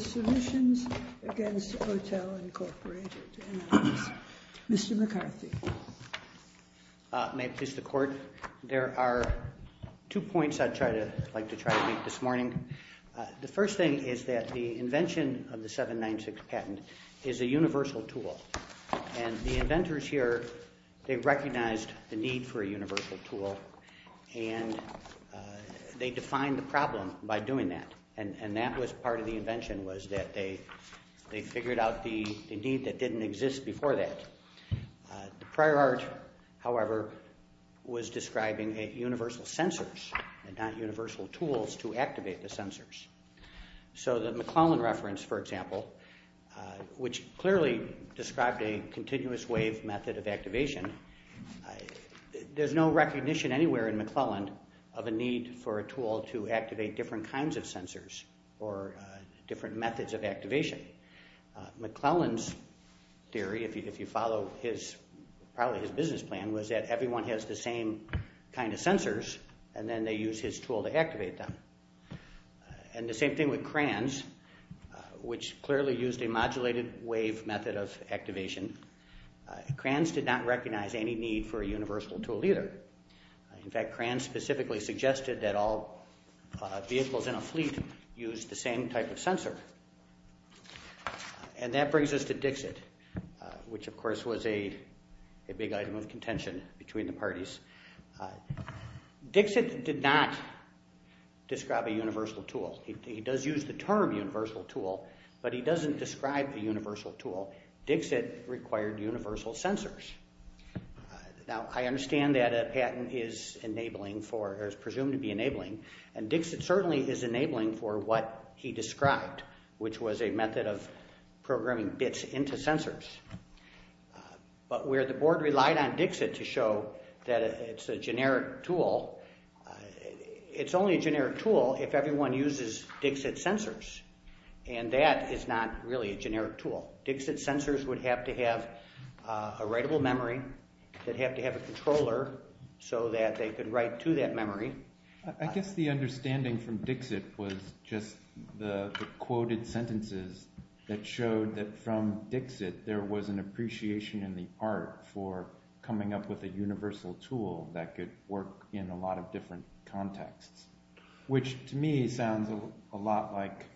Submissions against Hotel Incorporated, and I'll ask Mr. McCarthy. May it please the Court? There are two points I'd like to try to make this morning. The first thing is that the invention of the 796 patent is a universal tool, and the inventors here, they recognized the need for a universal tool, and they defined the problem by doing that. And that was part of the invention, was that they figured out the need that didn't exist before that. The prior art, however, was describing universal sensors and not universal tools to activate the sensors. So the McClellan reference, for example, which clearly described a continuous wave method of activation, there's no recognition anywhere in McClellan of a need for a tool to activate different kinds of sensors or different methods of activation. McClellan's theory, if you follow probably his business plan, was that everyone has the same kind of sensors, and then they use his tool to activate them. And the same thing with Kranz, which clearly used a modulated wave method of activation. Kranz did not recognize any need for a universal tool either. In fact, Kranz specifically suggested that all vehicles in a fleet use the same type of sensor. And that brings us to Dixit, which of course was a big item of contention between the parties. Dixit did not describe a universal tool. He does use the term universal tool, but he doesn't describe the universal tool. Dixit required universal sensors. Now, I understand that a patent is enabling for, or is presumed to be enabling, and Dixit certainly is enabling for what he described, which was a method of programming bits into sensors. But where the board relied on Dixit to show that it's a generic tool, it's only a generic tool if everyone uses Dixit sensors, and that is not really a generic tool. Dixit sensors would have to have a writable memory, they'd have to have a controller so that they could write to that memory. I guess the understanding from Dixit was just the quoted sentences that showed that from there was an appreciation in the art for coming up with a universal tool that could work in a lot of different contexts, which to me sounds a lot like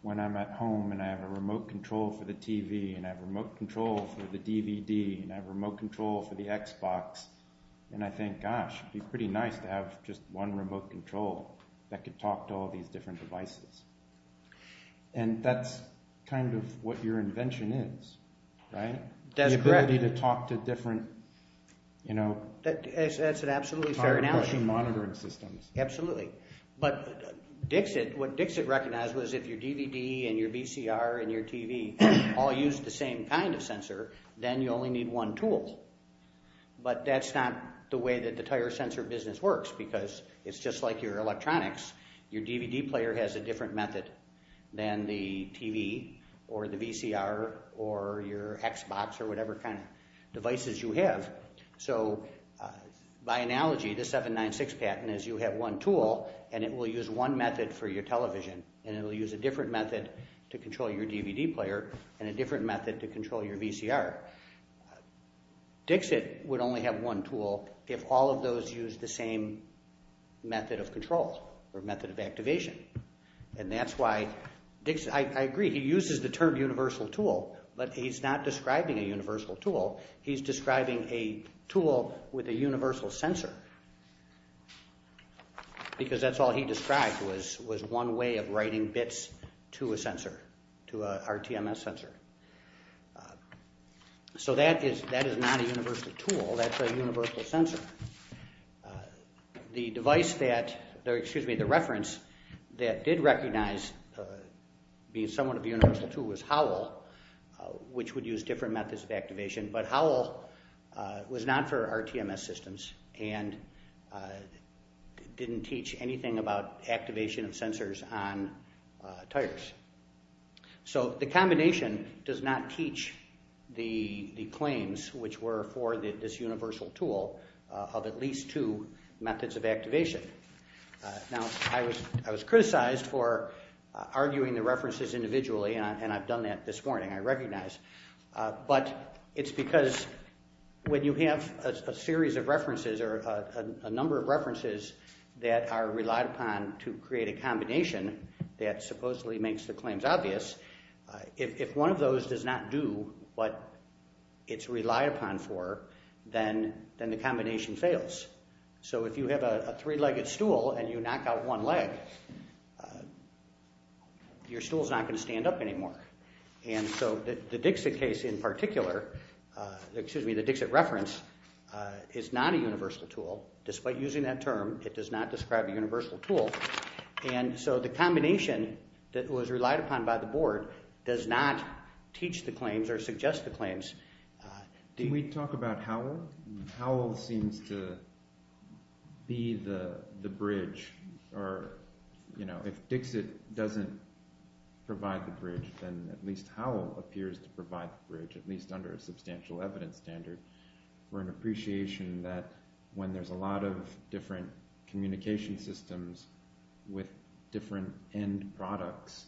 when I'm at home and I have a remote control for the TV, and I have a remote control for the DVD, and I have a remote control for the Xbox, and I think, gosh, it would be pretty nice to have just one remote control that could talk to all these different devices. And that's kind of what your invention is, right? That's correct. The ability to talk to different, you know... That's an absolutely fair analogy. ...tire pushing monitoring systems. Absolutely. But what Dixit recognized was if your DVD and your VCR and your TV all use the same kind of sensor, then you only need one tool. But that's not the way that the tire sensor business works, because it's just like your different method than the TV or the VCR or your Xbox or whatever kind of devices you have. So by analogy, the 796 patent is you have one tool, and it will use one method for your television, and it will use a different method to control your DVD player and a different method to control your VCR. Dixit would only have one tool if all of those used the same method of control or method of activation. And that's why Dixit... I agree. He uses the term universal tool, but he's not describing a universal tool. He's describing a tool with a universal sensor, because that's all he described was one way of writing bits to a sensor, to a RTMS sensor. So that is not a universal tool. That's a universal sensor. The device that... Excuse me. The reference that did recognize being somewhat of a universal tool was Howell, which would use different methods of activation. But Howell was not for RTMS systems and didn't teach anything about activation of sensors on tires. So the combination does not teach the claims which were for this universal tool of at least two methods of activation. Now, I was criticized for arguing the references individually, and I've done that this morning. I recognize. But it's because when you have a series of references or a number of references that are relied upon to create a combination that supposedly makes the claims obvious, if one of those does not do what it's relied upon for, then the combination fails. So if you have a three-legged stool and you knock out one leg, your stool's not going to stand up anymore. And so the Dixit case in particular... Excuse me. The Dixit reference is not a universal tool. Despite using that term, it does not describe a universal tool. And so the combination that was relied upon by the board does not teach the claims or suggest the claims. Can we talk about Howell? Howell seems to be the bridge or, you know, if Dixit doesn't provide the bridge, then at least Howell appears to provide the bridge, at least under a substantial evidence standard or an appreciation that when there's a lot of different communication systems with different end products,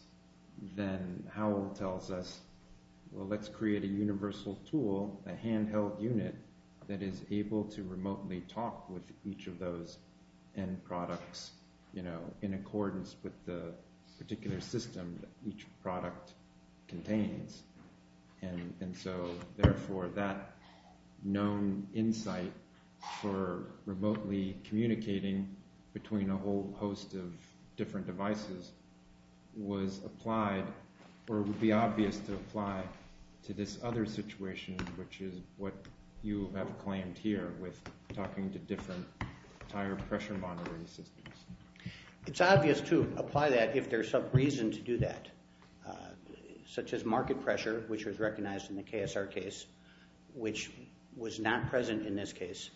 then Howell tells us, well, let's create a universal tool, a handheld unit that is able to remotely talk with each of those end products, you know, in accordance with the particular system that each product contains. And so, therefore, that known insight for remotely communicating between a whole host of different devices was applied or would be obvious to apply to this other situation, which is what you have claimed here with talking to different tire pressure monitoring systems. It's obvious to apply that if there's some reason to do that, such as market pressure, which was recognized in the KSR case, which was not present in this case.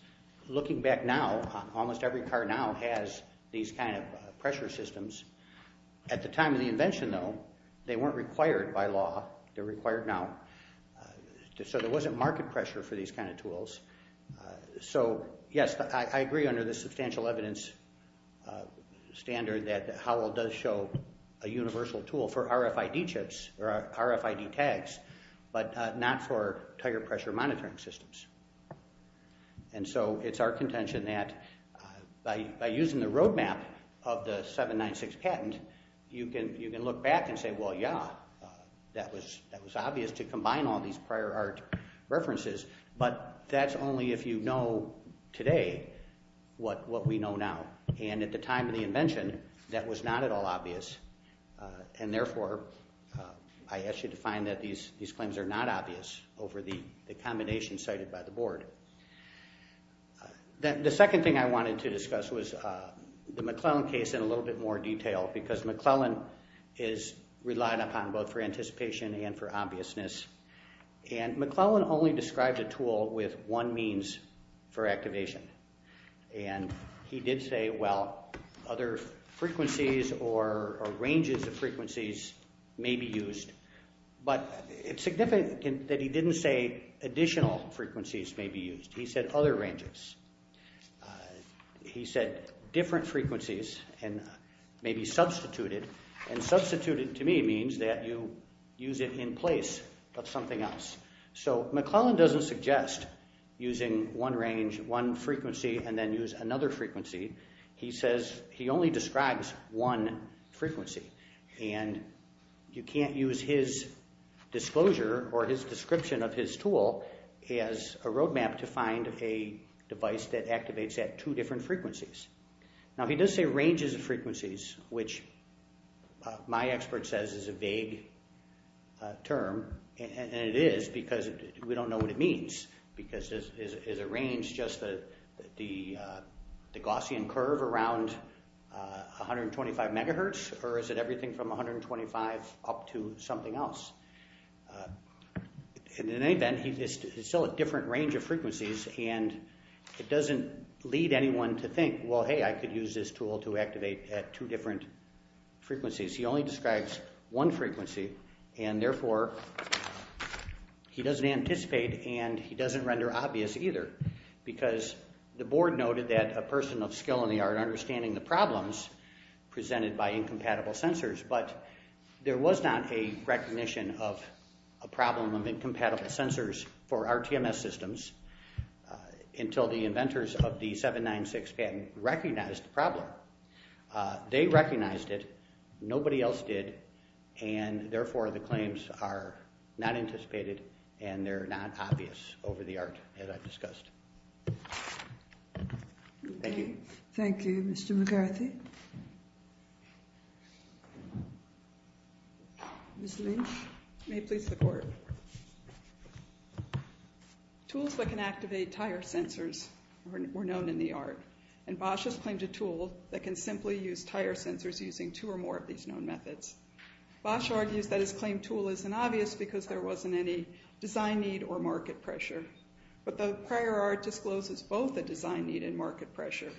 Looking back now, almost every car now has these kind of pressure systems. At the time of the invention, though, they weren't required by law. They're required now. So, yes, I agree under the substantial evidence standard that Howell does show a universal tool for RFID chips or RFID tags, but not for tire pressure monitoring systems. And so it's our contention that by using the roadmap of the 796 patent, you can look back and say, well, yeah, that was obvious to combine all these prior art references, but that's only if you know today what we know now. And at the time of the invention, that was not at all obvious. And, therefore, I ask you to find that these claims are not obvious over the combination cited by the board. The second thing I wanted to discuss was the McClellan case in a little bit more detail, because McClellan is relied upon both for anticipation and for obviousness. And McClellan only described a tool with one means for activation. And he did say, well, other frequencies or ranges of frequencies may be used. But it's significant that he didn't say additional frequencies may be used. He said other ranges. He said different frequencies and maybe substituted. And substituted to me means that you use it in place. But something else. So McClellan doesn't suggest using one range, one frequency, and then use another frequency. He says he only describes one frequency. And you can't use his disclosure or his description of his tool as a roadmap to find a device that activates at two different frequencies. Now, he does say ranges of frequencies, which my expert says is a vague term. And it is, because we don't know what it means. Because is a range just the Gaussian curve around 125 megahertz? Or is it everything from 125 up to something else? In any event, it's still a different range of frequencies. And it doesn't lead anyone to think, well, hey, I could use this tool to activate at two different frequencies. He only describes one frequency. And, therefore, he doesn't anticipate and he doesn't render obvious either. Because the board noted that a person of skill in the art understanding the problems presented by incompatible sensors. But there was not a recognition of a problem of incompatible sensors for RTMS systems. Until the inventors of the 796 patent recognized the problem. They recognized it. Nobody else did. And, therefore, the claims are not anticipated and they're not obvious over the art, as I've discussed. Thank you. Thank you. Mr. McCarthy? Ms. Lynch? May it please the Court? Go ahead. Tools that can activate tire sensors were known in the art. And Bosch has claimed a tool that can simply use tire sensors using two or more of these known methods. Bosch argues that his claimed tool isn't obvious because there wasn't any design need or market pressure. But the prior art discloses both the design need and market pressure.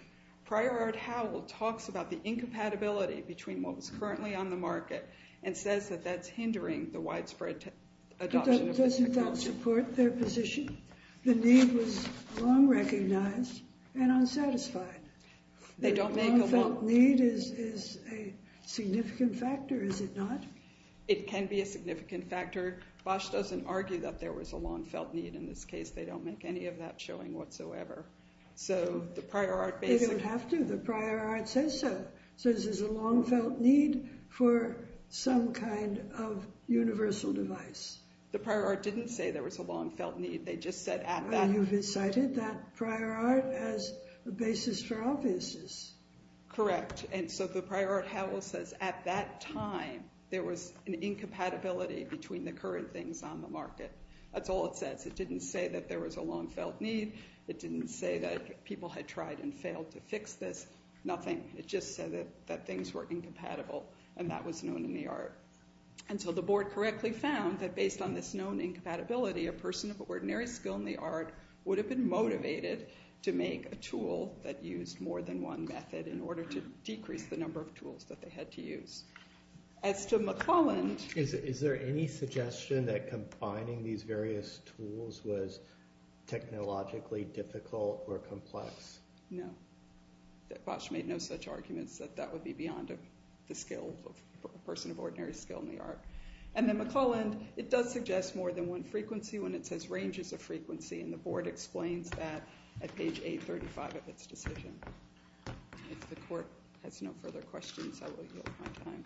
Prior art Howell talks about the incompatibility between what was currently on the market and says that that's hindering the widespread adoption of the technology. But doesn't that support their position? The need was long recognized and unsatisfied. They don't make a long- The long-felt need is a significant factor, is it not? It can be a significant factor. Bosch doesn't argue that there was a long-felt need in this case. They don't make any of that showing whatsoever. So the prior art basically- They don't have to. The prior art says so. So this is a long-felt need for some kind of universal device. The prior art didn't say there was a long-felt need. They just said at that- You've cited that prior art as a basis for obviousness. Correct. And so the prior art Howell says at that time there was an incompatibility between the current things on the market. That's all it says. It didn't say that there was a long-felt need. It didn't say that people had tried and failed to fix this. Nothing. It just said that things were incompatible, and that was known in the art. And so the board correctly found that based on this known incompatibility, a person of ordinary skill in the art would have been motivated to make a tool that used more than one method in order to decrease the number of tools that they had to use. As to McClelland- Is there any suggestion that combining these various tools was technologically difficult or complex? No. Bosh made no such arguments that that would be beyond the skill of a person of ordinary skill in the art. And then McClelland, it does suggest more than one frequency when it says ranges of frequency, and the board explains that at page 835 of its decision. If the court has no further questions, I will yield my time.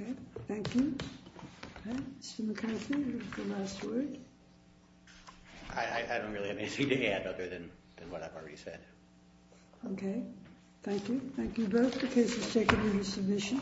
Okay, thank you. Mr. McCarthy, your last word. I don't really have anything to add other than what I've already said. Okay, thank you. Thank you both. The case is taken into submission.